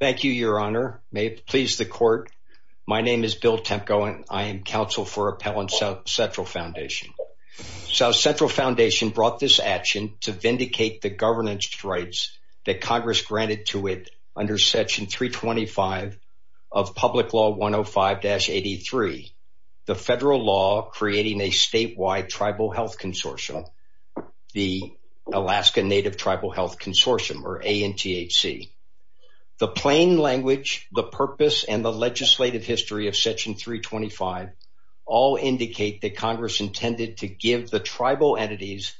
Thank you, Your Honor. May it please the court. My name is Bill Temko, and I am counsel for Appellant Southcentral Foundation. Southcentral Foundation brought this action to vindicate the governance rights that Congress granted to it under Section 325 of Public Law 105-83, the federal law creating a statewide tribal health consortium, the Alaska Native Tribal Health Consortium, or ANTHC. The plain language, the purpose, and the legislative history of Section 325 all indicate that Congress intended to give the tribal entities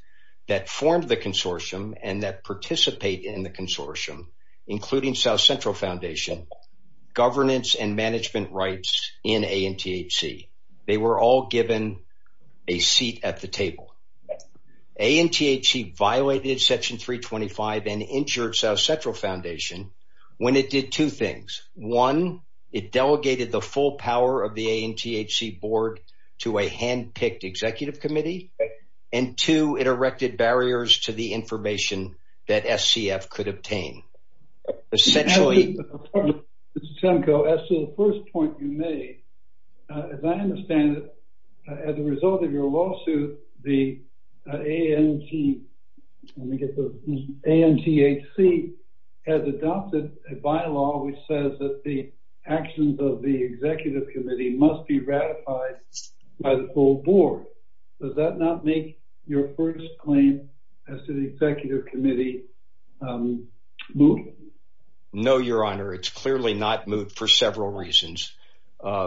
that formed the consortium and that participate in the consortium, including Southcentral Foundation, governance and management rights in ANTHC. They were all given a seat at the table. ANTHC violated Section 325 and injured Southcentral Foundation when it did two things. One, it delegated the full power of the ANTHC board to a hand-picked executive committee, and two, it erected barriers to the information that SCF could obtain. Essentially... Your Honor, Mr. Temko, as to the first point you made, as I understand it, as a result of your lawsuit, the ANTHC has adopted a bylaw which says that the actions of the executive committee must be ratified by the full board. Does that not make your first claim as to the executive committee moot? No, Your Honor. It's clearly not moot for several reasons.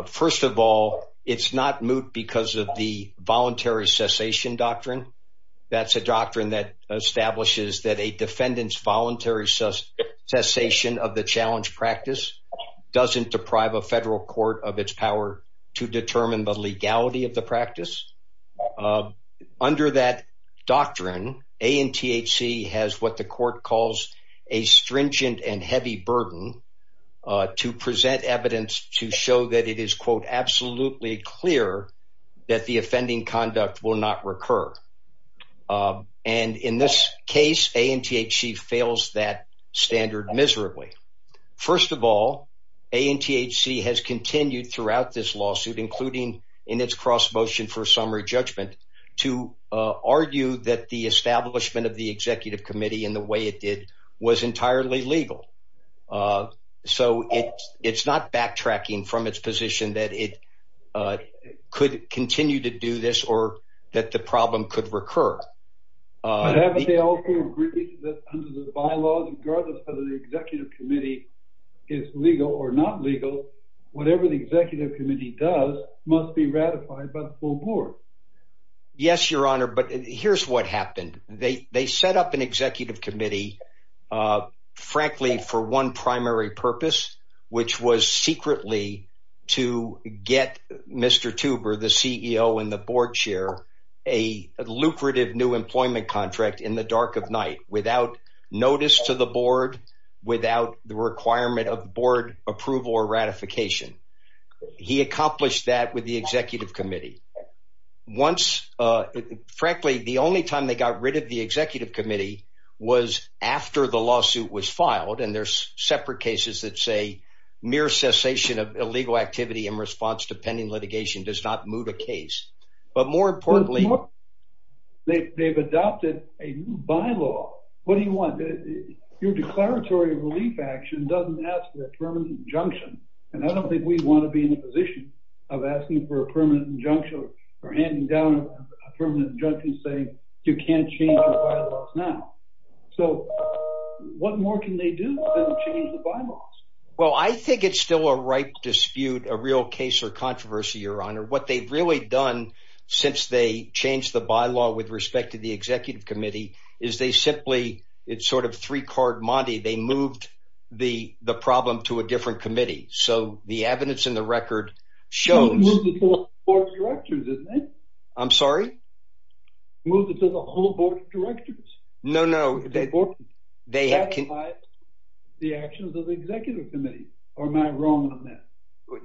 First of all, it's not moot because of the voluntary cessation doctrine. That's a doctrine that establishes that a defendant's voluntary cessation of the challenge practice doesn't deprive a federal court of its power to determine the legality of the practice. Under that doctrine, ANTHC has what the court calls a stringent and heavy burden to present evidence to show that it is, quote, absolutely clear that the offending conduct will not recur. And in this case, ANTHC fails that standard miserably. First of all, ANTHC has continued throughout this lawsuit, including in its cross motion for summary judgment, to argue that the establishment of the executive committee in the way it did was entirely legal. So it's not backtracking from its position that it could continue to do this or that the problem could recur. But haven't they also agreed that under the bylaws, regardless of whether the executive committee is legal or not legal, whatever the executive committee does must be ratified by the full board? Yes, Your Honor. But here's what happened. They set up an executive committee frankly, for one primary purpose, which was secretly to get Mr. Tuber, the CEO and the board chair, a lucrative new employment contract in the dark of night without notice to the board, without the requirement of board approval or ratification. He accomplished that with the executive committee. Once, frankly, the only time they got rid of the executive committee was after the lawsuit was filed. And there's separate cases that say mere cessation of illegal activity in response to pending litigation does not move the case. But more importantly, they've adopted a new bylaw. What do you want? Your declaratory relief action doesn't ask for a permanent injunction. And I don't think we want to be in a position of asking for a permanent injunction or handing down a permanent injunction saying you can't change the bylaws now. So what more can they do to change the bylaws? Well, I think it's still a ripe dispute, a real case of controversy, Your Honor. What they've really done since they changed the bylaw with respect to the executive committee is they simply, it's sort of three-card Monty, they moved the problem to a different committee. So the evidence in the record shows... Moved it to the whole board of directors? No, no. The actions of the executive committee, or am I wrong on that?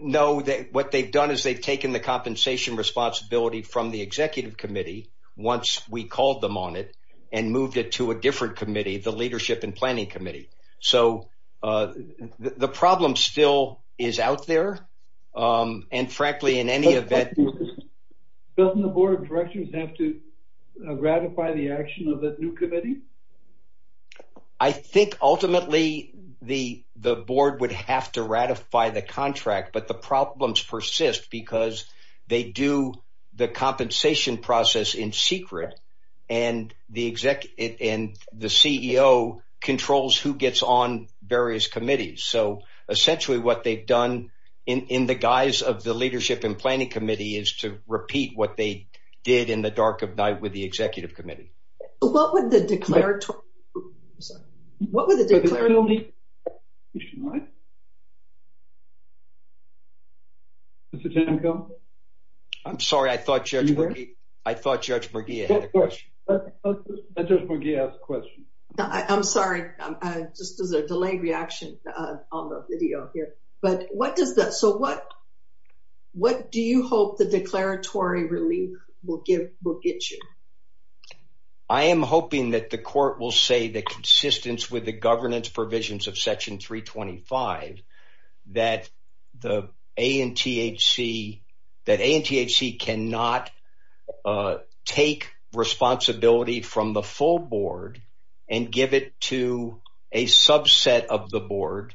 No, what they've done is they've taken the compensation responsibility from the executive committee once we called them on it and moved it to a different committee, the leadership and planning committee. So the problem still is out there. And frankly, in any event... Ratify the action of the new committee? I think ultimately the board would have to ratify the contract, but the problems persist because they do the compensation process in secret and the CEO controls who gets on various committees. So essentially what they've done in the guise of the leadership and planning committee is to repeat what they did in the dark of night with the executive committee. What would the declaratory... What would the declaratory... Mr. Tamko? I'm sorry, I thought Judge Morgia had a question. I'm sorry, just as a delayed reaction on the video here. So what do you hope the declaratory relief will get you? I am hoping that the court will say the consistence with the governance provisions of section 325, that ANTHC cannot take responsibility from the full board and give it to a subset of the board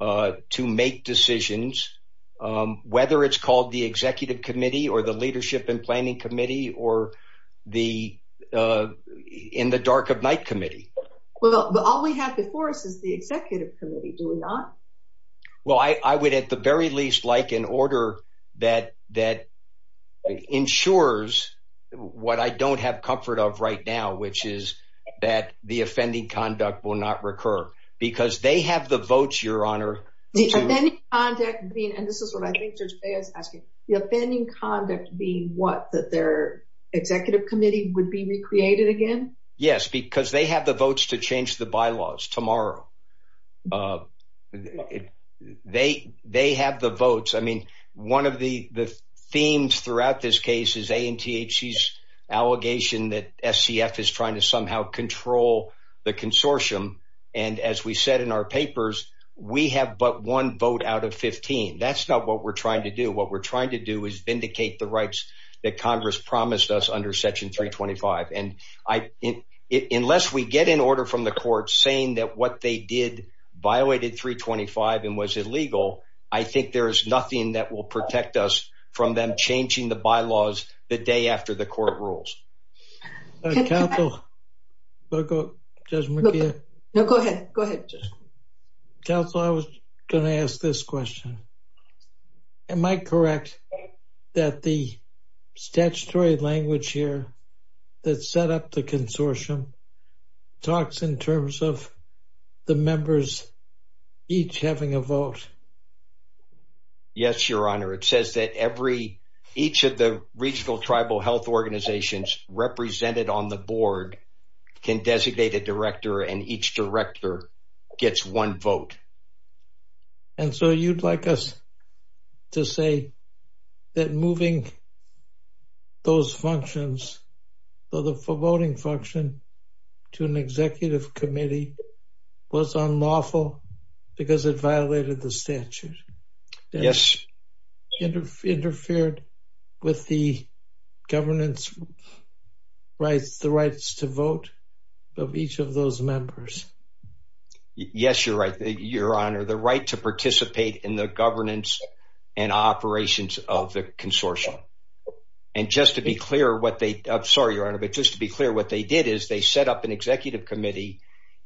to make decisions, whether it's called the executive committee or the leadership and planning committee or the in the dark of night committee. Well, all we have before us is the executive committee, do we not? Well, I would at the very least like an order that ensures what I don't have comfort of right now, which is that the offending conduct will not recur because they have the votes, Your Honor. The offending conduct being, and this is what I think Judge Bea is asking, the offending conduct being what? That their executive committee would be recreated again? Yes, because they have the votes to change the bylaws tomorrow. They have the votes. I mean, one of the themes throughout this case is ANTHC's allegation that SCF is trying to somehow control the consortium. And as we said in our papers, we have but one vote out of 15. That's not what we're trying to do. What we're trying to do is vindicate the rights that Congress promised us under section 325. And unless we get an order from the court saying that what they did violated 325 and was illegal, I think there's nothing that will protect us from them changing the bylaws the day after the court rules. Counsel, Judge McKeon? No, go ahead. Go ahead. Counsel, I was going to ask this question. Am I correct that the statutory language here that set up the consortium talks in terms of the members each having a vote? Yes, Your Honor. It says that each of the regional tribal health organizations represented on the board can designate a director and each director gets one vote. And so you'd like us to say that moving those functions, the voting function, to an executive committee was unlawful because it violated the statute? Yes. Interfered with the governance rights, the rights to vote of each of those members? Yes, you're right, Your Honor. The right to participate in the governance and operations of the consortium. And just to be clear what they, I'm sorry, Your Honor, but just to be clear, what they did is they set up an executive committee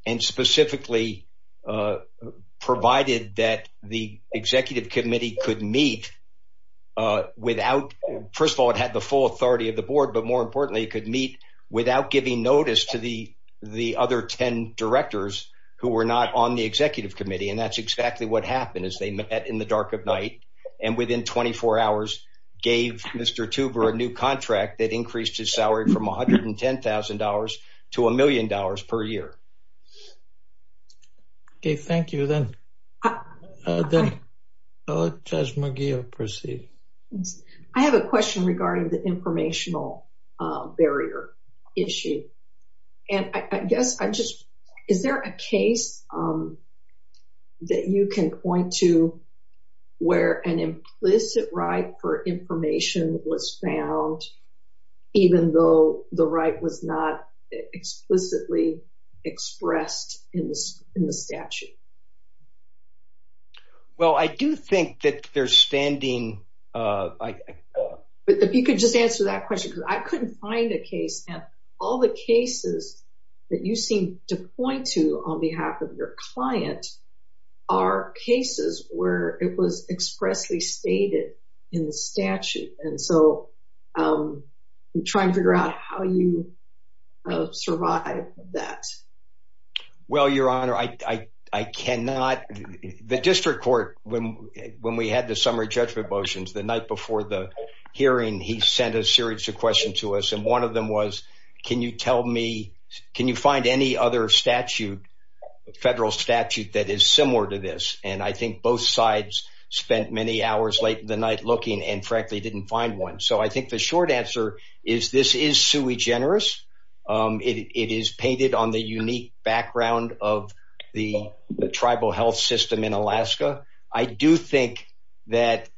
and specifically provided that the executive committee could meet without, first of all, it had the full authority of the board, but more importantly, it could meet without giving notice to the other 10 directors who were not on the executive committee. And that's exactly what happened as they met in the dark of night and within 24 hours gave Mr. Tuber a new contract that increased his salary from $110,000 to $1,000,000 per year. Okay, thank you. Then how does Magia proceed? I have a question regarding the informational barrier issue. And I guess I just, is there a case that you can point to where an implicit right for information was found, even though the right was not explicitly expressed in the statute? Well, I do think that there's standing... But if you could just answer that question, because I couldn't find a case and all the cases that you seem to point to on behalf of your client are cases where it was expressly stated in the statute. And so I'm trying to figure out how you survive that. Well, Your Honor, I cannot... The district court, when we had the summary judgment motions, the night before the hearing, he sent a series of questions to us. And one of them was, can you tell me, can you find any other statute, federal statute that is similar to this? And I think both sides spent many hours late in the night looking and frankly didn't find one. So I think the short answer is this is sui generis. It is painted on the unique background of the tribal health system in Alaska. I do think that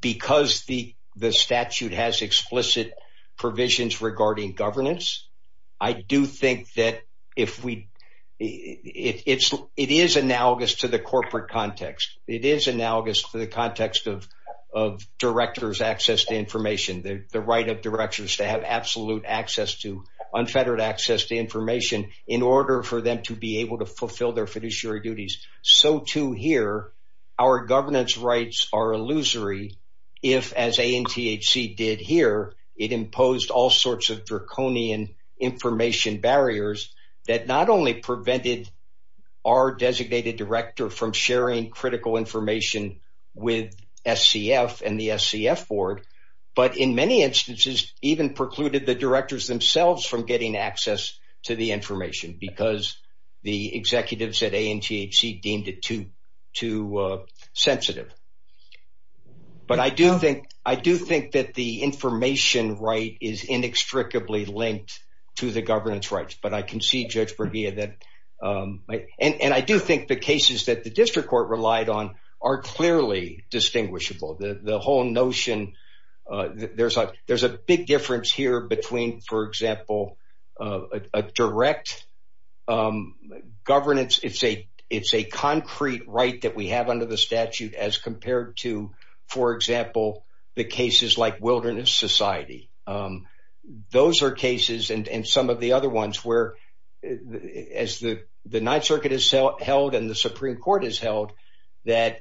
because the statute has explicit provisions regarding governance, I do think that if we... It is analogous to the corporate context. It is analogous to the context of director's access to information, the right of directors to have absolute access to unfettered access to information in order for them to be able to fulfill their fiduciary duties. So too here, our governance rights are illusory. If as ANTHC did here, it imposed all sorts of draconian information barriers that not only prevented our designated director from sharing critical information with SCF and the SCF board, but in many instances even precluded the directors themselves from getting access to the information because the executives at ANTHC deemed it too sensitive. But I do think that the information right is inextricably linked to the governance rights, but I can see Judge Brevia that... And I do think the cases that the district court relied on are clearly distinguishable. The whole governance, it's a concrete right that we have under the statute as compared to, for example, the cases like Wilderness Society. Those are cases and some of the other ones where as the Ninth Circuit has held and the Supreme Court has held that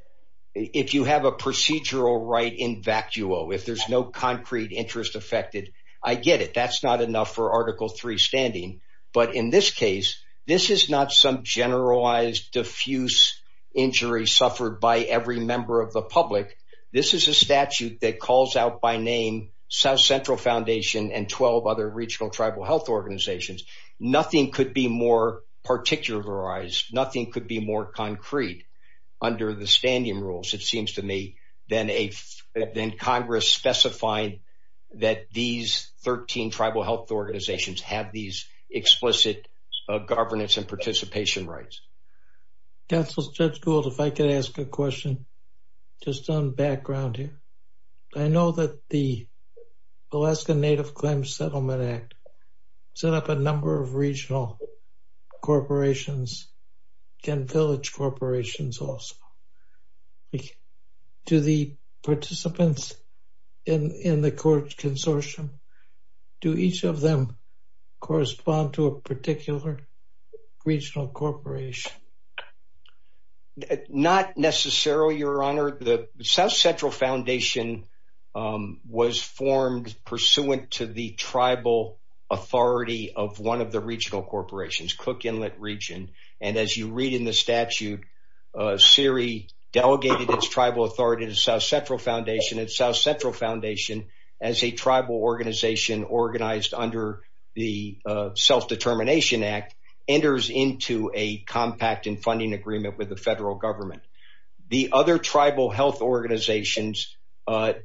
if you have a procedural right in vacuo, if there's no concrete interest affected, I get it. That's not enough for Article III standing. But in this case, this is not some generalized diffuse injury suffered by every member of the public. This is a statute that calls out by name South Central Foundation and 12 other regional tribal health organizations. Nothing could be more particularized. Nothing could be more concrete under the standing rules, it seems to me, than Congress specifying that these 13 tribal health organizations have these explicit governance and participation rights. Counsel Judge Gould, if I could ask a question just on background here. I know that the Alaska Native Claims Settlement Act set up a number of regional corporations and village of them correspond to a particular regional corporation. Not necessarily, Your Honor. The South Central Foundation was formed pursuant to the tribal authority of one of the regional corporations, Cook Inlet Region. And as you read in the statute, SERE delegated its tribal authority to South Central Foundation and South Central Foundation as a tribal organization organized under the Self-Determination Act enters into a compact and funding agreement with the federal government. The other tribal health organizations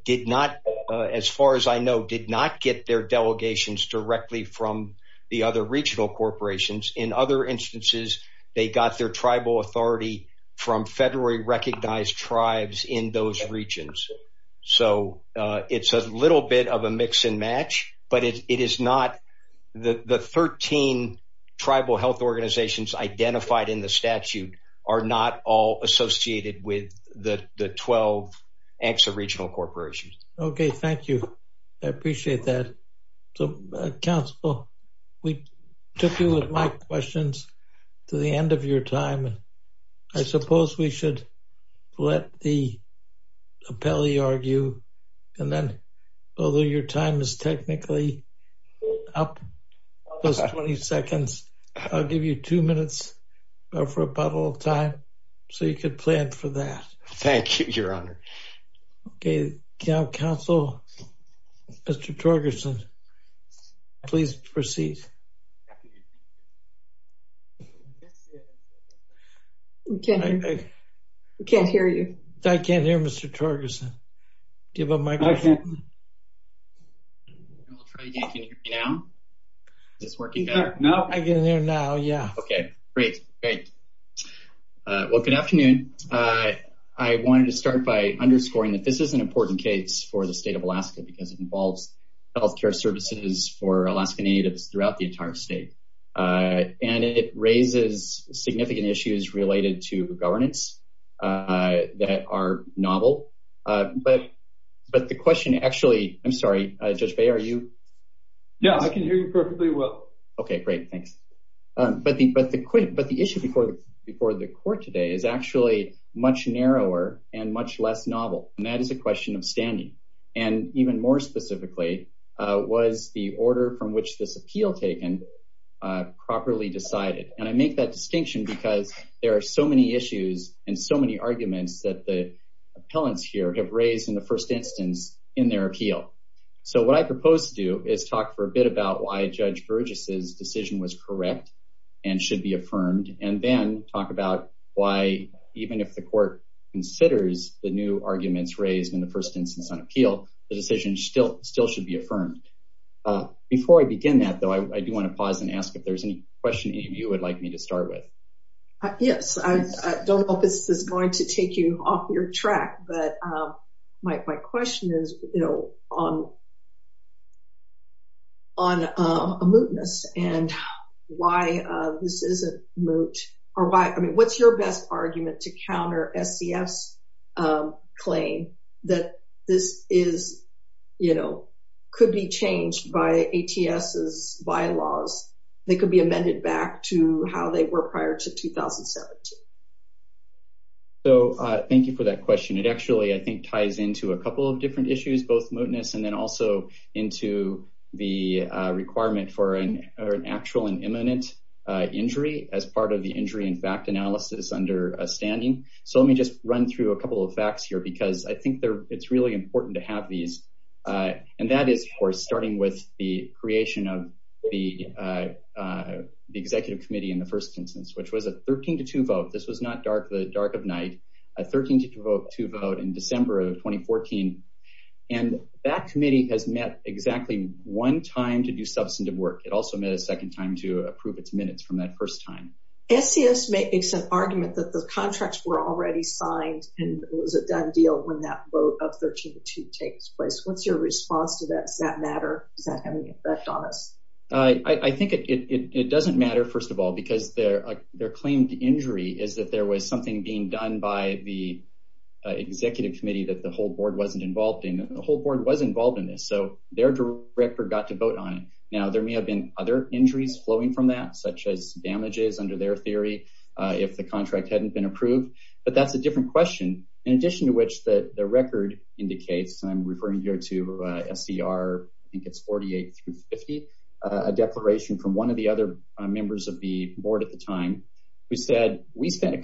did not, as far as I know, did not get their delegations directly from the other regional corporations. In other instances, they got their tribal authority from federally recognized tribes in those regions. So, it's a little bit of a mix and match, but the 13 tribal health organizations identified in the statute are not all associated with the 12 ex-regional corporations. Okay. Thank you. I appreciate that. So, Counsel, we took you with my questions to the end of your time. I suppose we should let the appellee argue. And then, although your time is technically up, just 20 seconds, I'll give you two minutes for a puddle of time so you could plan for that. Thank you, Your Honor. Okay. Counsel, Mr. Torgerson, please proceed. I can't hear you. I can't hear you, Mr. Torgerson. Give up my question. I'll try again. Can you hear me now? Is this working better? No. I can hear now, yeah. Okay. Great. Great. Well, good afternoon. I wanted to start by underscoring that this is an important case for the state of Alaska because it involves health care services for Alaskan state. And it raises significant issues related to governance that are novel. But the question, actually, I'm sorry, Judge Bay, are you? Yeah. I can hear you perfectly well. Okay. Great. Thanks. But the issue before the court today is actually much narrower and much less novel. And that is a question of standing. And even more specifically, was the order from which this appeal taken properly decided? And I make that distinction because there are so many issues and so many arguments that the appellants here have raised in the first instance in their appeal. So what I propose to do is talk for a bit about why Judge Burgess's decision was correct and should be affirmed, and then talk about why even if the court considers the new arguments raised in the first instance on appeal, the decision still should be affirmed. Before I begin that, though, I do want to pause and ask if there's any question any of you would like me to start with. Yes. I don't know if this is going to take you off your track, but my question is, you know, on a mootness and why this isn't moot, or why, I mean, what's your best argument to counter SCF's claim that this is, you know, could be changed by ATS's bylaws that could be amended back to how they were prior to 2017? So thank you for that question. It actually, I think, ties into a couple of different issues, both mootness and then also into the requirement for actual and imminent injury as part of the injury and fact analysis understanding. So let me just run through a couple of facts here, because I think it's really important to have these. And that is, of course, starting with the creation of the Executive Committee in the first instance, which was a 13 to 2 vote. This was not the dark of night, a 13 to 2 vote in December of 2014. And that committee has met exactly one time to do substantive work. It also met a second time to approve its minutes from that first time. SCF makes an argument that the contracts were already signed and it was a done deal when that vote of 13 to 2 takes place. What's your response to that? Does that matter? Does that have any effect on us? I think it doesn't matter, first of all, because their claim to injury is that there was something being done by the Executive Committee that the whole board wasn't involved in. The whole board was involved in this, so their record got to vote on it. Now, there may have been other injuries flowing from that, such as damages under their theory, if the contract hadn't been approved, but that's a different question. In addition to which, the record indicates, and I'm referring here to SCR, I think it's 48 through 50, a declaration from one of the other members of the board at the time, who said, we spent a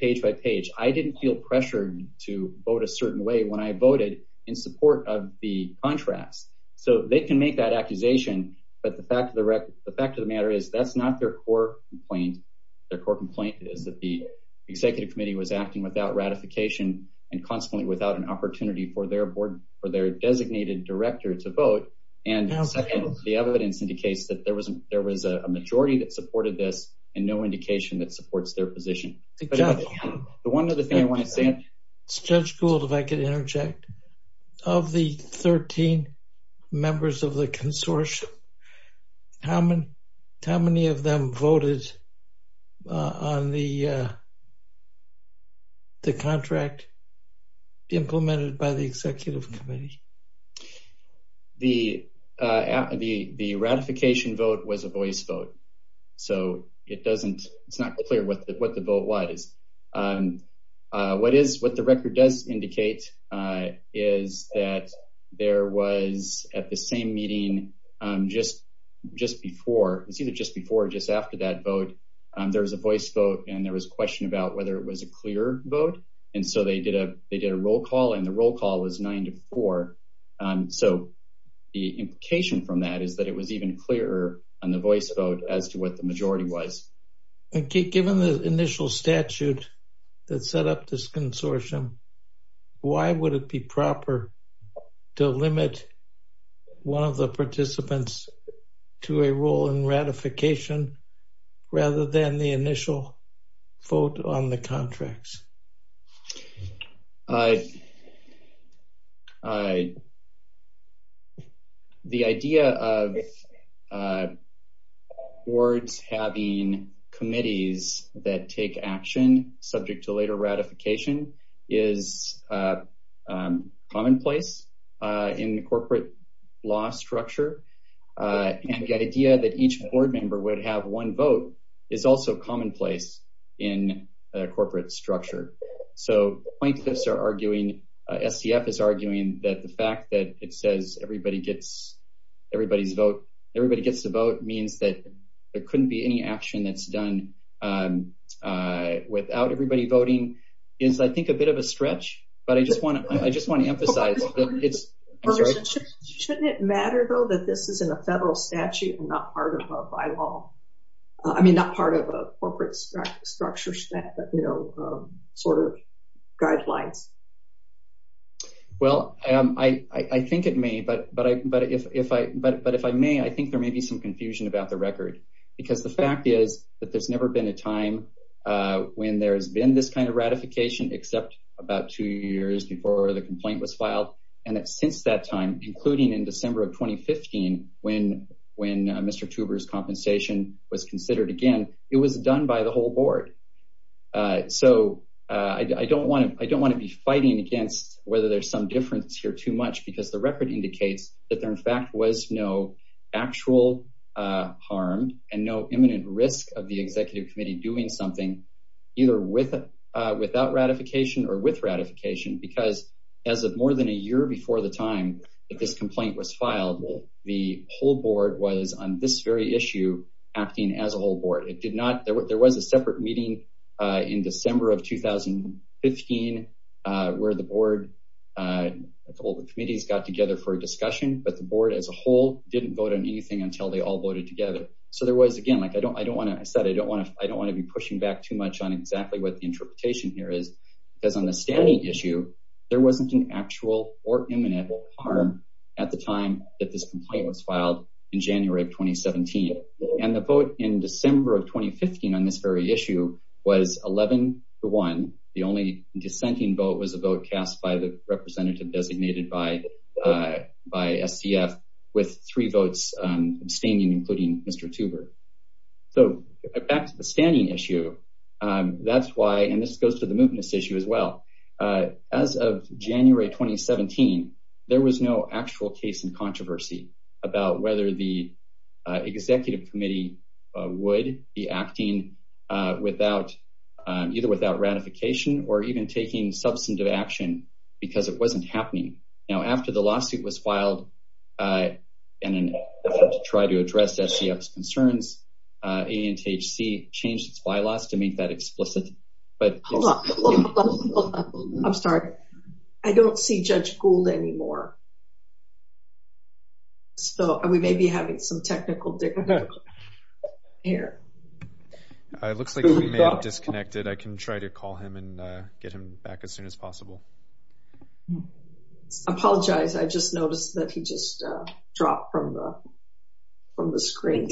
page. I didn't feel pressured to vote a certain way when I voted in support of the contracts. So they can make that accusation, but the fact of the matter is that's not their core complaint. Their core complaint is that the Executive Committee was acting without ratification and consequently without an opportunity for their board, for their designated director to vote. And second, the evidence indicates that there was a majority that supported this and no the one other thing I want to say. It's Judge Gould, if I could interject. Of the 13 members of the consortium, how many of them voted on the the contract implemented by the Executive Committee? The ratification vote was a voice vote, so it's not clear what the vote was. What the record does indicate is that there was at the same meeting just before, it's either just before or just after that vote, there was a voice vote and there was a question about whether it was a clear vote. And so they did a roll call and the roll call was nine to four. So the implication from that is that it was even clearer on the statute that set up this consortium. Why would it be proper to limit one of the participants to a role in ratification rather than the initial vote on the contracts? The idea of boards having committees that take action subject to later ratification is commonplace in the corporate law structure. And the idea that each board member would have one vote is also commonplace in a corporate structure. So plaintiffs are arguing, SCF is arguing, that the fact that it says everybody gets everybody's vote, everybody gets to vote, means that there couldn't be any action that's done without everybody voting, is I think a bit of a stretch, but I just want to emphasize that it's... Shouldn't it matter though that this is in a federal statute and not part of a bylaw? I mean, not part of a corporate structure that sort of guidelines. Well, I think it may, but if I may, I think there may be some confusion about the record because the fact is that there's never been a time when there's been this kind of ratification except about two years before the complaint was filed. And that since that time, including in December of 2015, when Mr. Tuber's compensation was considered again, it was done by the whole board. So I don't want to be fighting against whether there's some difference here too much because the record indicates that there in fact was no actual harm and no imminent risk of the executive committee doing something either without ratification or with ratification because as of more than a year before the time that this complaint was filed, the whole board was on this very issue acting as a whole board. There was a separate meeting in December of 2015 where the board, all the committees got together for a discussion, but the board as a whole didn't vote on anything until they all voted together. So there was again, like I said, I don't want to be pushing back too much on exactly what interpretation here is because on the standing issue, there wasn't an actual or imminent harm at the time that this complaint was filed in January of 2017. And the vote in December of 2015 on this very issue was 11 to one. The only dissenting vote was a vote cast by the representative designated by SDF with three votes abstaining, including Mr. Tuber. So back to the standing issue, that's why, and this goes to the movements issue as well. As of January 2017, there was no actual case in controversy about whether the executive committee would be acting either without ratification or even taking substantive action because it wasn't until January of 2017 that the ANTHC changed its bylaws to make that explicit. I'm sorry, I don't see Judge Gould anymore. So we may be having some technical difficulties here. It looks like we may have disconnected. I can try to call him and get him back as soon as possible. I apologize. I just noticed that he just dropped from the screen.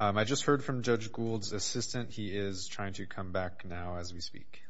I just heard from Judge Gould's assistant. He is trying to come back now as we speak.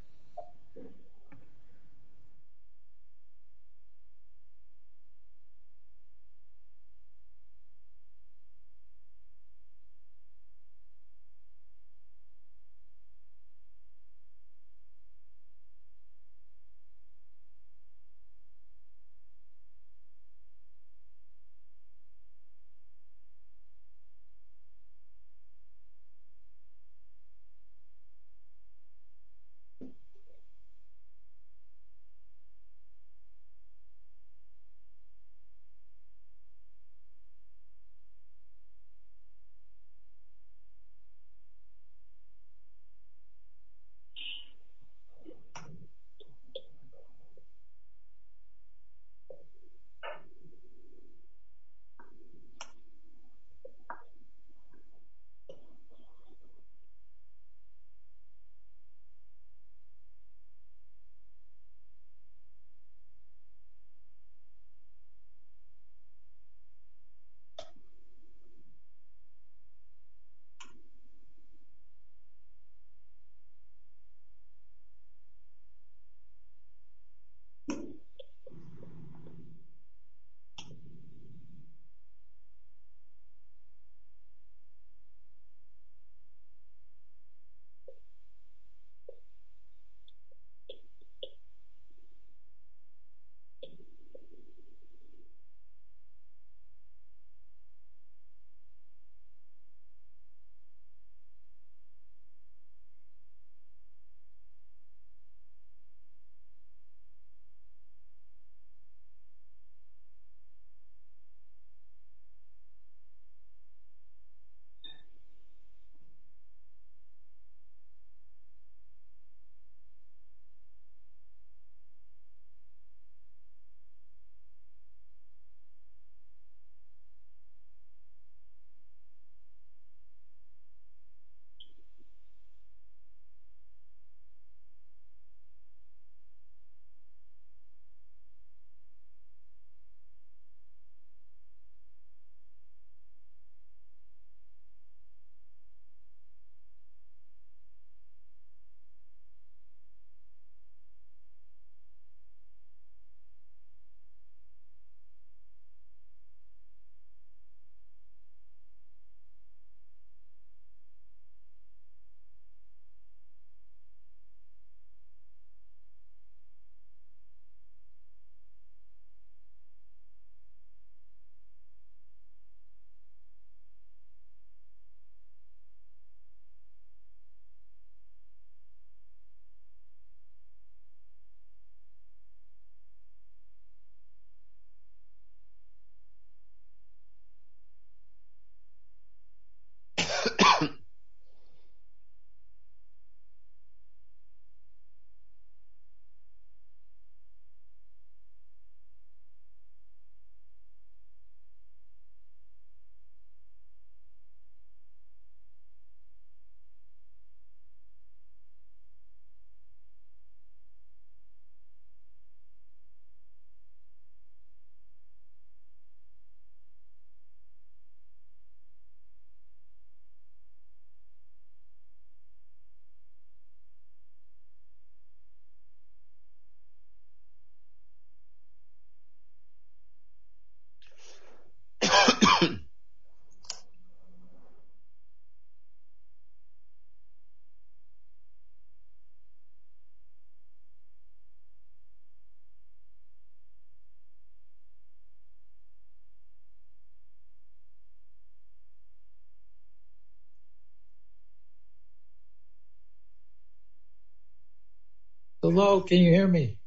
Hello, can you hear me?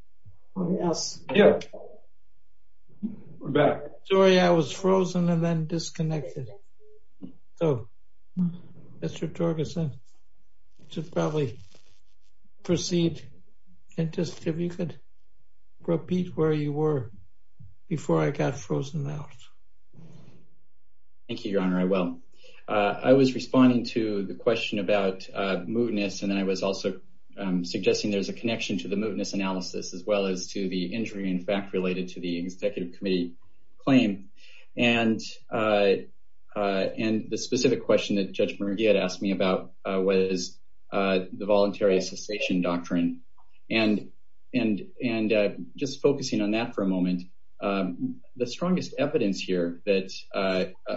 Yes, we're back. Sorry, I was frozen and then disconnected. So Mr. Jorgensen should probably proceed and just if you could repeat where you were before I got frozen out. Thank you, Your Honor, I will. I was responding to the question about as well as to the injury in fact related to the executive committee claim and the specific question that Judge Murugia had asked me about was the voluntary cessation doctrine and just focusing on that for a moment. The strongest evidence here that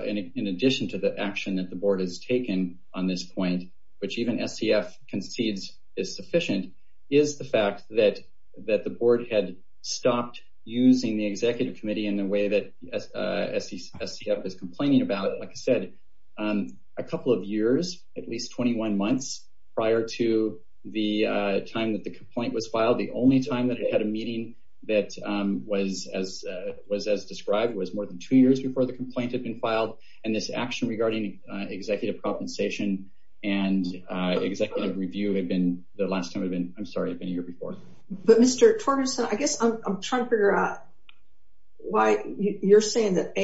in addition to the action the board has taken on this point, which even SCF concedes is sufficient, is the fact that the board had stopped using the executive committee in the way that SCF is complaining about. Like I said, a couple of years, at least 21 months prior to the time that the complaint was filed, the only time that it had a meeting that was as described was more than two years before the complaint had filed and this action regarding executive compensation and executive review had been the last time it had been. I'm sorry, it had been a year before. But Mr. Jorgensen, I guess I'm trying to figure out why you're saying that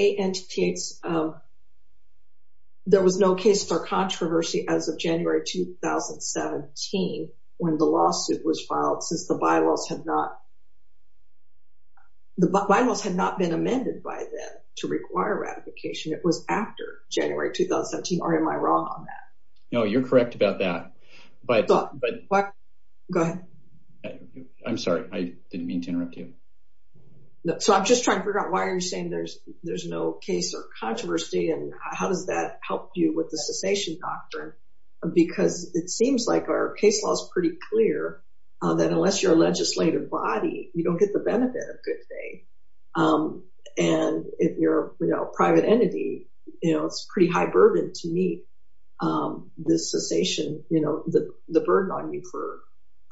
there was no case for controversy as of January 2017 when the lawsuit was filed since the bylaws had not been amended by them to require ratification. It was after January 2017 or am I wrong on that? No, you're correct about that. Go ahead. I'm sorry, I didn't mean to interrupt you. So I'm just trying to figure out why are you saying there's no case or controversy and how does that help you with the cessation doctrine because it seems like our case law is pretty clear that unless you're a legislative body, you don't get the benefit of good faith. And if you're a private entity, it's a pretty high burden to meet the cessation, the burden on you for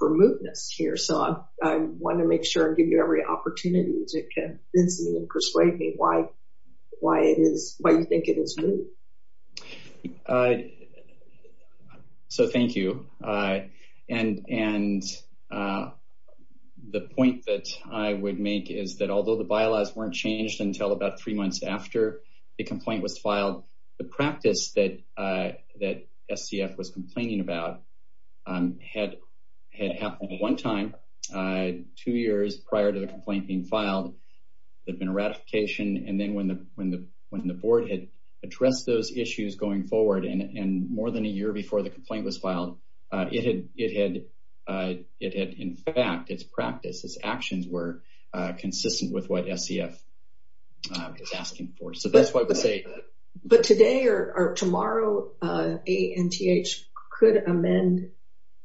mootness here. So I want to make sure and give you every opportunity to convince me and persuade me why you think it is moot. So thank you. And the point that I would make is that although the bylaws weren't changed until about three months after the complaint was filed, the practice that SCF was complaining about had happened one time, two years prior to the complaint being filed. There'd been a ratification and then when the board had addressed those issues going forward and more than a year before the complaint was filed, it had in fact, its practice, its actions were consistent with what SCF is asking for. So that's why I would say- But today or tomorrow, ANTH could amend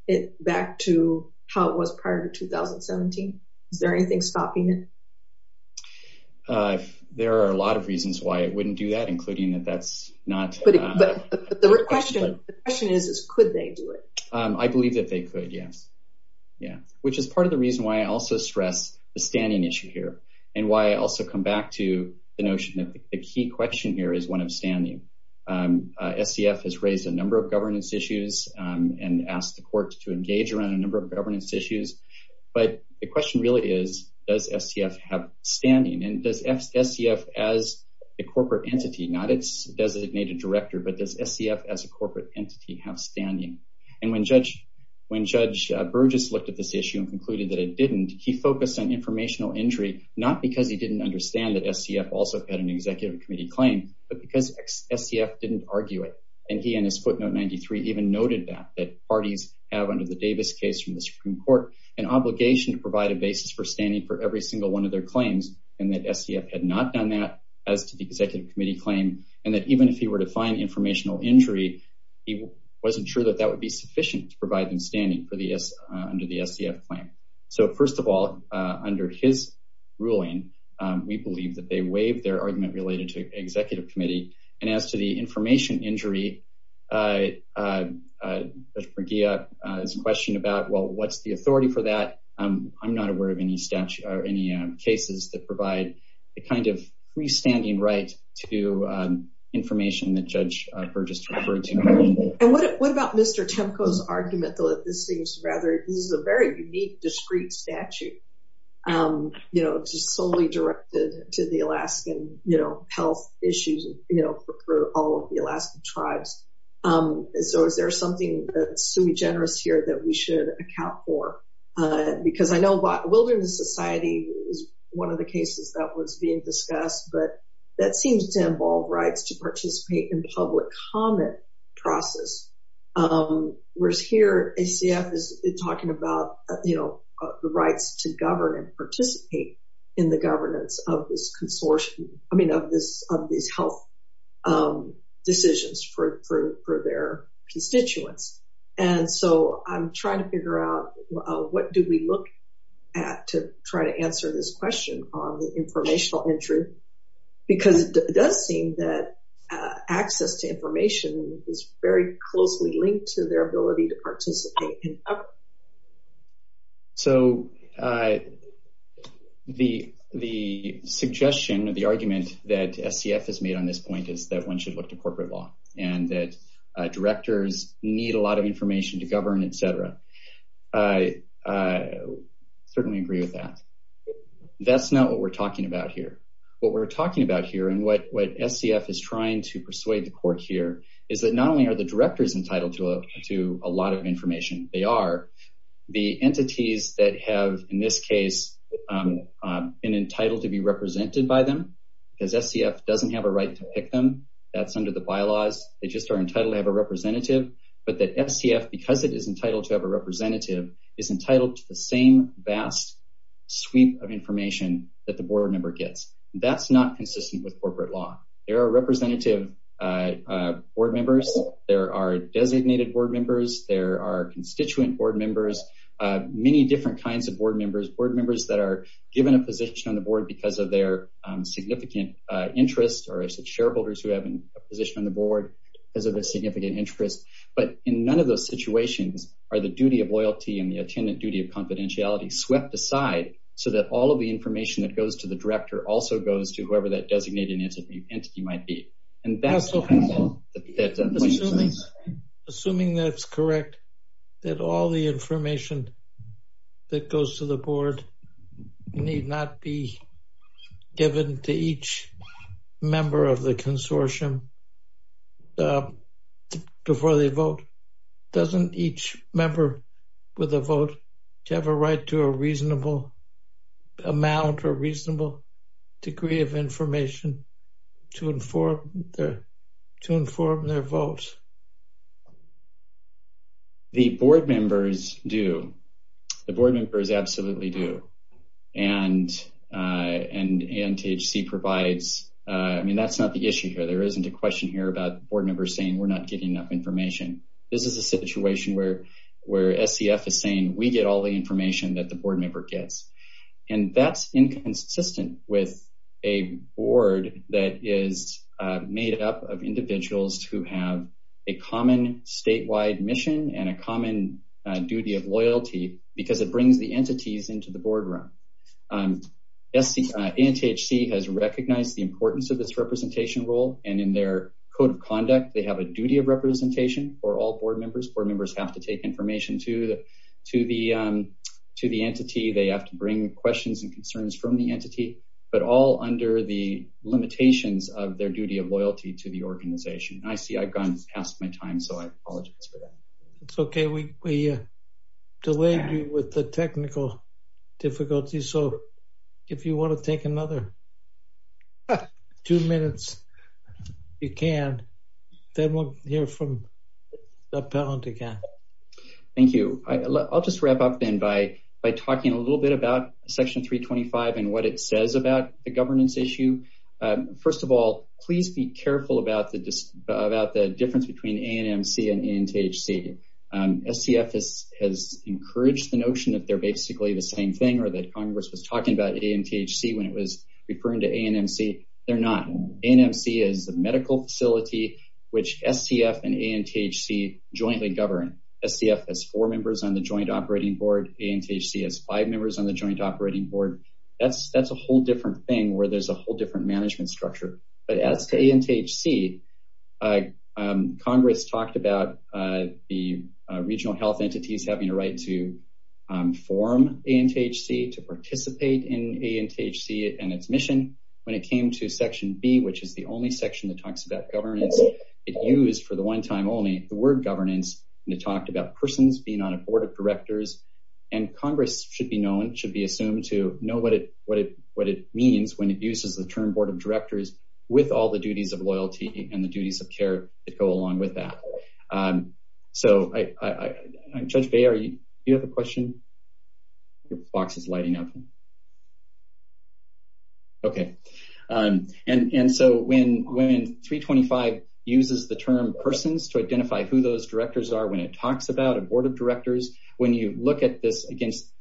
it back to how it was prior to 2017. Is there anything stopping it? There are a lot of reasons why it wouldn't do that, including that that's not- But the question is, could they do it? I believe that they could, yes. Yeah. Which is part of the reason why I also stress the standing issue here and why I also come back to the notion that the key question here is one of standing. SCF has raised a number of governance issues and asked the court to engage around a number of governance issues. But the question really is, does SCF have standing? And does SCF as a corporate entity, not its designated director, but does SCF as a corporate entity have standing? And when Judge Burgess looked at this issue and concluded that it didn't, he focused on informational injury, not because he didn't understand that SCF also had an executive committee claim, but because SCF didn't argue it. And he and his footnote 93 even noted that, parties have under the Davis case from the Supreme Court, an obligation to provide a basis for standing for every single one of their claims and that SCF had not done that as to the executive committee claim. And that even if he were to find informational injury, he wasn't sure that that would be sufficient to provide them standing under the SCF claim. So first of all, under his ruling, we believe that they waived their argument related to his question about, well, what's the authority for that? I'm not aware of any statute or any cases that provide the kind of freestanding right to information that Judge Burgess referred to. And what about Mr. Temko's argument though, that this seems rather, this is a very unique, discrete statute, just solely directed to the Alaskan health issues for all of the Alaskan tribes. So is there something that's sui generis here that we should account for? Because I know Wilderness Society is one of the cases that was being discussed, but that seems to involve rights to participate in public comment process. Whereas here, SCF is talking about the rights to govern and participate in the governance of this consortium, I mean, of these health decisions for their constituents. And so I'm trying to figure out, what do we look at to try to answer this question on the informational injury? Because it does seem that access to information is very closely linked to their ability to SCF has made on this point is that one should look to corporate law and that directors need a lot of information to govern, et cetera. I certainly agree with that. That's not what we're talking about here. What we're talking about here and what SCF is trying to persuade the court here is that not only are the directors entitled to a lot of information, they are the entities that have, in this case, been entitled to be represented by them because SCF doesn't have a right to pick them. That's under the bylaws. They just are entitled to have a representative, but that SCF, because it is entitled to have a representative, is entitled to the same vast sweep of information that the board member gets. That's not consistent with corporate law. There are representative board members. There are designated board members. There are constituent board members, many different kinds of board members, board members that are given a position on the board because of their significant interest or shareholders who have a position on the board because of a significant interest, but in none of those situations are the duty of loyalty and the attendant duty of confidentiality swept aside so that all of the information that goes to the director also goes to whoever that designated entity might be. Assuming that's correct, that all the information that goes to the board need not be given to each member of the consortium before they vote, doesn't each member with a vote have a right to a reasonable amount or reasonable degree of information to inform their votes? The board members do. The board members absolutely do, and ANTHC provides, I mean, that's not the issue here. There isn't a question here about board members saying, we're not getting enough information. This is a situation where SCF is saying, we get all the information that the board member gets, and that's inconsistent with a board that is made up of individuals who have a common statewide mission and a common duty of loyalty because it brings the entities into the boardroom. ANTHC has recognized the importance of this representation role, and in their code of conduct, they have a duty of representation for all board members. Board members have to take information to the entity. They have to bring questions and loyalty to the organization. I see I've gone past my time, so I apologize for that. It's okay. We delayed you with the technical difficulty, so if you want to take another two minutes, you can. Then we'll hear from the appellant again. Thank you. I'll just wrap up then by talking a little bit about Section 325 and what it says about the governance issue. First of all, please be careful about the difference between ANMC and ANTHC. SCF has encouraged the notion that they're basically the same thing or that Congress was talking about ANTHC when it was referring to ANMC. They're not. ANMC is the medical facility which SCF and ANTHC jointly govern. SCF has four members on the joint operating board. ANTHC has five members on the joint operating board. That's a whole different thing where there's a whole different management structure, but as to ANTHC, Congress talked about the regional health entities having a right to form ANTHC, to participate in ANTHC and its mission. When it came to Section B, which is the only section that talks about governance, it used for the one time only the word governance, and it talked about persons being on a board of directors. Congress should be known, should be assumed to know what it means when it uses the term board of directors with all the duties of loyalty and the duties of care that go along with that. Judge Bayer, do you have a question? Your box is lighting up. Okay. When 325 uses the term persons to identify who those directors are when it talks about a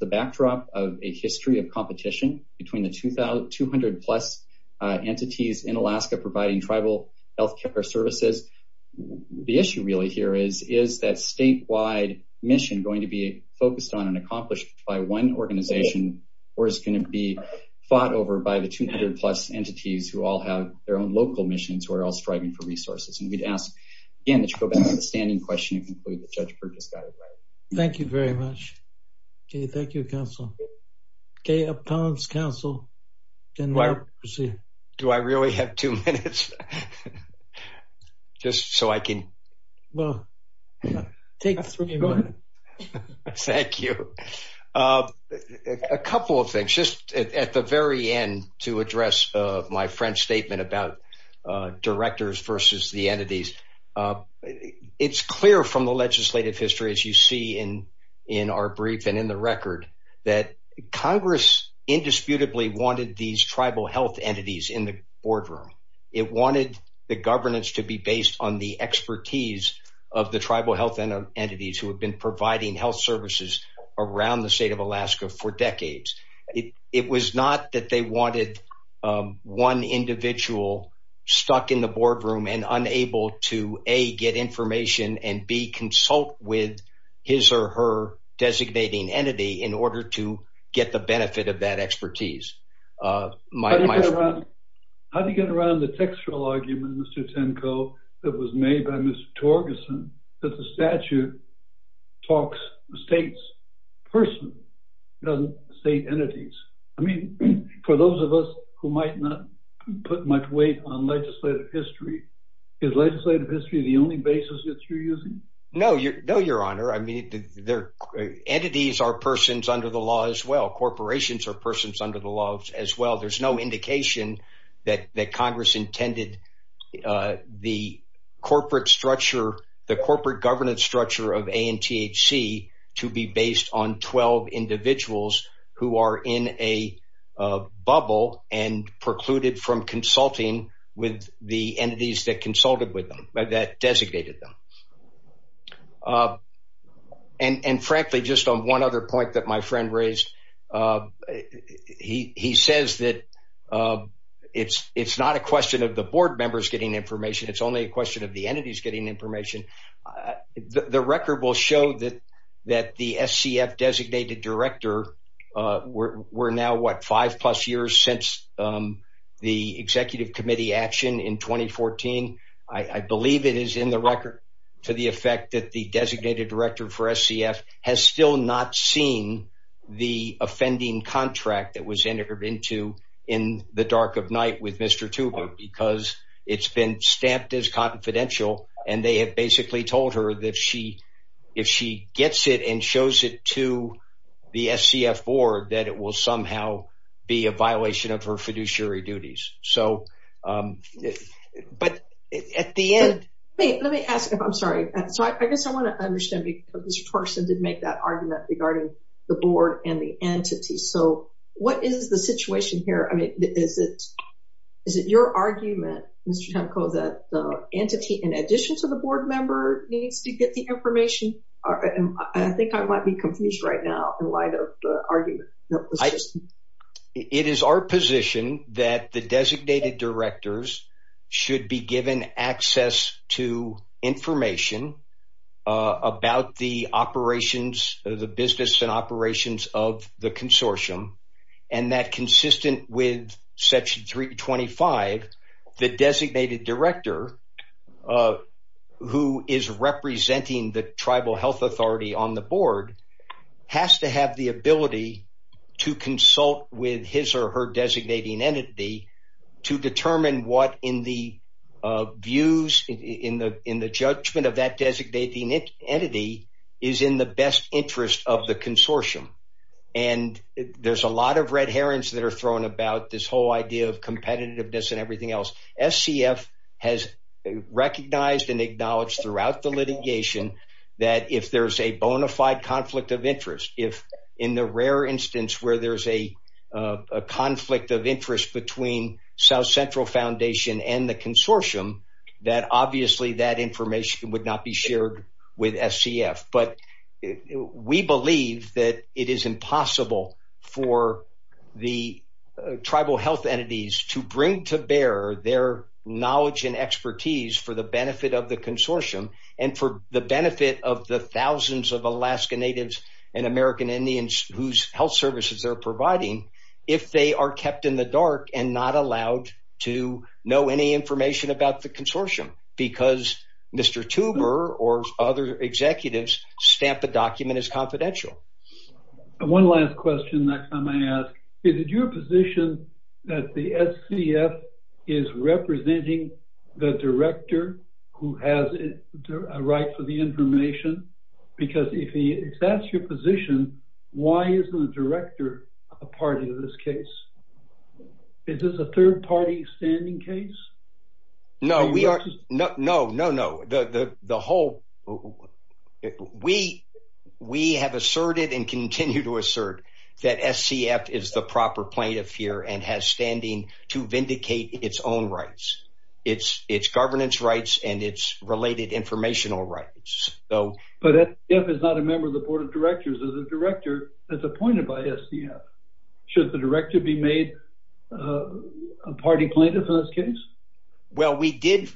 backdrop of a history of competition between the 200-plus entities in Alaska providing tribal health care services, the issue really here is, is that statewide mission going to be focused on and accomplished by one organization or is it going to be fought over by the 200-plus entities who all have their own local missions or are all striving for resources? We'd ask, again, that you go back to the standing question and conclude that Judge Kirk has got it right. Thank you very much. Okay. Thank you, counsel. Okay. Appellants, counsel, can now proceed. Do I really have two minutes? Just so I can... Well, take three minutes. Thank you. A couple of things. Just at the very end to address my French statement about directors versus the entities. It's clear from the legislative history, as you see in our brief and in the record, that Congress indisputably wanted these tribal health entities in the boardroom. It wanted the governance to be based on the expertise of the tribal health entities who have been providing health services around the state of Alaska for decades. It was not that they wanted one individual stuck in the boardroom and unable to, A, get information and, B, consult with his or her designating entity in order to get the benefit of that expertise. How do you get around the textual argument, Mr. Tenko, that was made by Mr. Torgerson, that the statute talks states person, doesn't state entities? I mean, for those of us who might not put much weight on legislative history, is legislative history the only basis that you're using? No, your honor. I mean, entities are persons under the law as well. Corporations are persons under the law as well. There's no indication that Congress intended the corporate structure, the corporate governance structure of ANTHC to be based on 12 individuals who are in a bubble and precluded from consulting with the entities that consulted with them, that designated them. And frankly, just on one other point that my friend raised, he says that it's not a question of the board members getting information. It's only a question of the entities getting information. The record will show that the SCF designated director, we're now, what, five plus years since the executive committee action in 2014. I believe it is in the record to the effect that the SCF designated director for SCF has still not seen the offending contract that was entered into in the dark of night with Mr. Tuber because it's been stamped as confidential and they have basically told her that if she gets it and shows it to the SCF board that it will somehow be a person to make that argument regarding the board and the entity. So what is the situation here? I mean, is it your argument, Mr. Temko, that the entity in addition to the board member needs to get the information? I think I might be confused right now in light of the argument. It is our position that the designated directors should be given access to information about the operations, the business and operations of the consortium and that consistent with section 325, the designated director who is representing the tribal health authority on the board has to have the ability to consult with his or her designating entity to determine what in the views, in the judgment of that designating entity is in the best interest of the consortium. And there's a lot of red herrings that are thrown about this whole idea of competitiveness and everything else. SCF has recognized and acknowledged throughout the litigation that if there's a bona fide conflict of interest, if in the rare instance where there's a South Central Foundation and the consortium, that obviously that information would not be shared with SCF. But we believe that it is impossible for the tribal health entities to bring to bear their knowledge and expertise for the benefit of the consortium and for the benefit of the thousands of Alaska Natives and American Indians whose health services they're providing if they are kept in the dark and not allowed to know any information about the consortium because Mr. Tuber or other executives stamp the document as confidential. One last question next time I ask, is it your position that the SCF is representing the director who has a right for the information? Because if that's your position, why isn't the director a party to this case? Is this a third party standing case? No, we are not. No, no, no. We have asserted and continue to assert that SCF is the proper plaintiff here and has standing to vindicate its own rights, its governance rights and its related informational rights. But SCF is not a member of the board of directors, is a director that's appointed by SCF. Should the director be made a party plaintiff in this case? Well, we did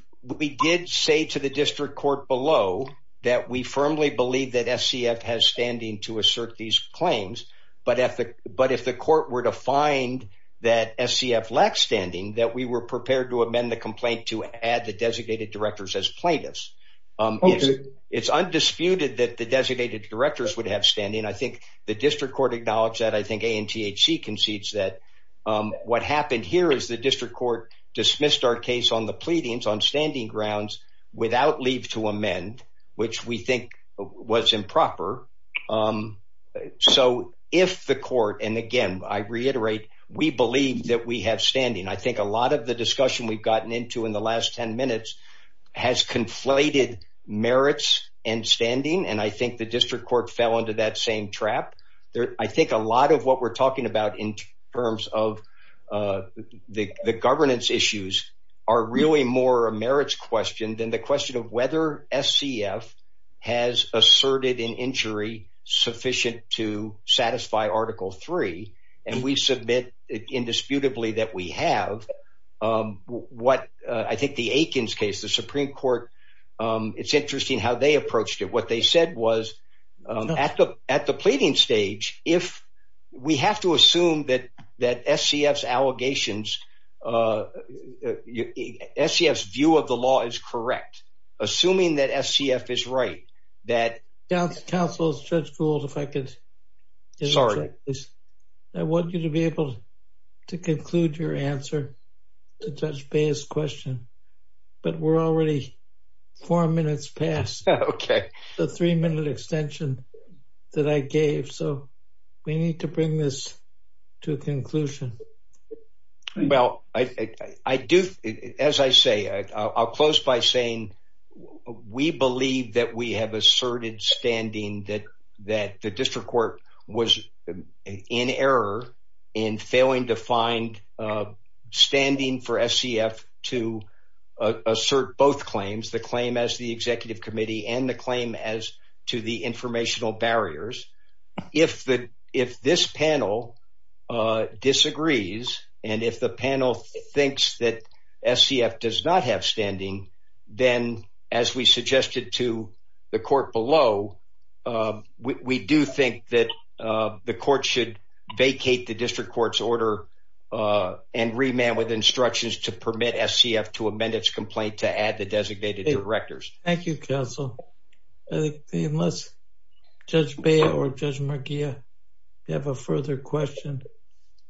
say to the district court below that we firmly believe that SCF has standing to assert these claims. But if the court were to find that SCF lacks standing, that we were prepared to amend the complaint to add the designated directors as plaintiffs. It's undisputed that the designated directors would have standing. I think the district court acknowledged that. I think ANTHC concedes that. What happened here is the district court dismissed our case on the pleadings on standing grounds without leave to amend, which we think was improper. So if the court, and again, I reiterate, we believe that we have standing. I think a lot of the discussion we've gotten into in the last 10 minutes has conflated merits and standing. And I think the district court fell into that same trap. I think a lot of what we're talking about in terms of the governance issues are really more a merits question than the question of whether SCF has asserted an injury sufficient to satisfy Article 3. And we submit indisputably that we have. I think the Aikens case, the Supreme Court, it's interesting how they approached it. What they said was, at the pleading stage, if we have to assume that SCF's allegations, SCF's view of the law is correct, assuming that SCF is right, that- Counsel, Judge Gould, if I could- Sorry. I want you to be able to conclude your answer to Judge Baye's question, but we're already four minutes past the three-minute extension that I gave. So we need to bring this to a conclusion. Well, as I say, I'll close by saying we believe that we have asserted standing that the district court was in error in failing to find standing for SCF to assert both claims, the claim as the executive committee and the claim as to the informational barriers. If this panel disagrees, and if the panel thinks that SCF does not have standing, then as we suggested to the court below, we do think that the court should vacate the district court's order and remand with instructions to permit SCF to amend its complaint to add the designated directors. Thank you, Counsel. Unless Judge Baye or Judge Marghia have a further question,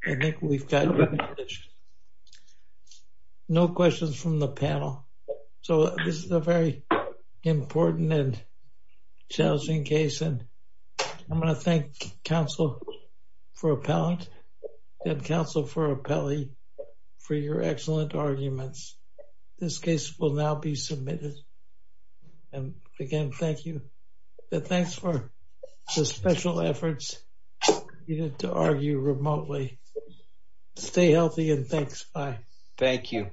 I think we've got it. No questions from the panel. So this is a very important and challenging case, and I'm going to thank Counsel for Appellant and Counsel for Appellee for your excellent arguments. This case will now be submitted. And again, thank you. Thanks for the special efforts needed to argue remotely. Stay healthy and thanks. Bye. Thank you.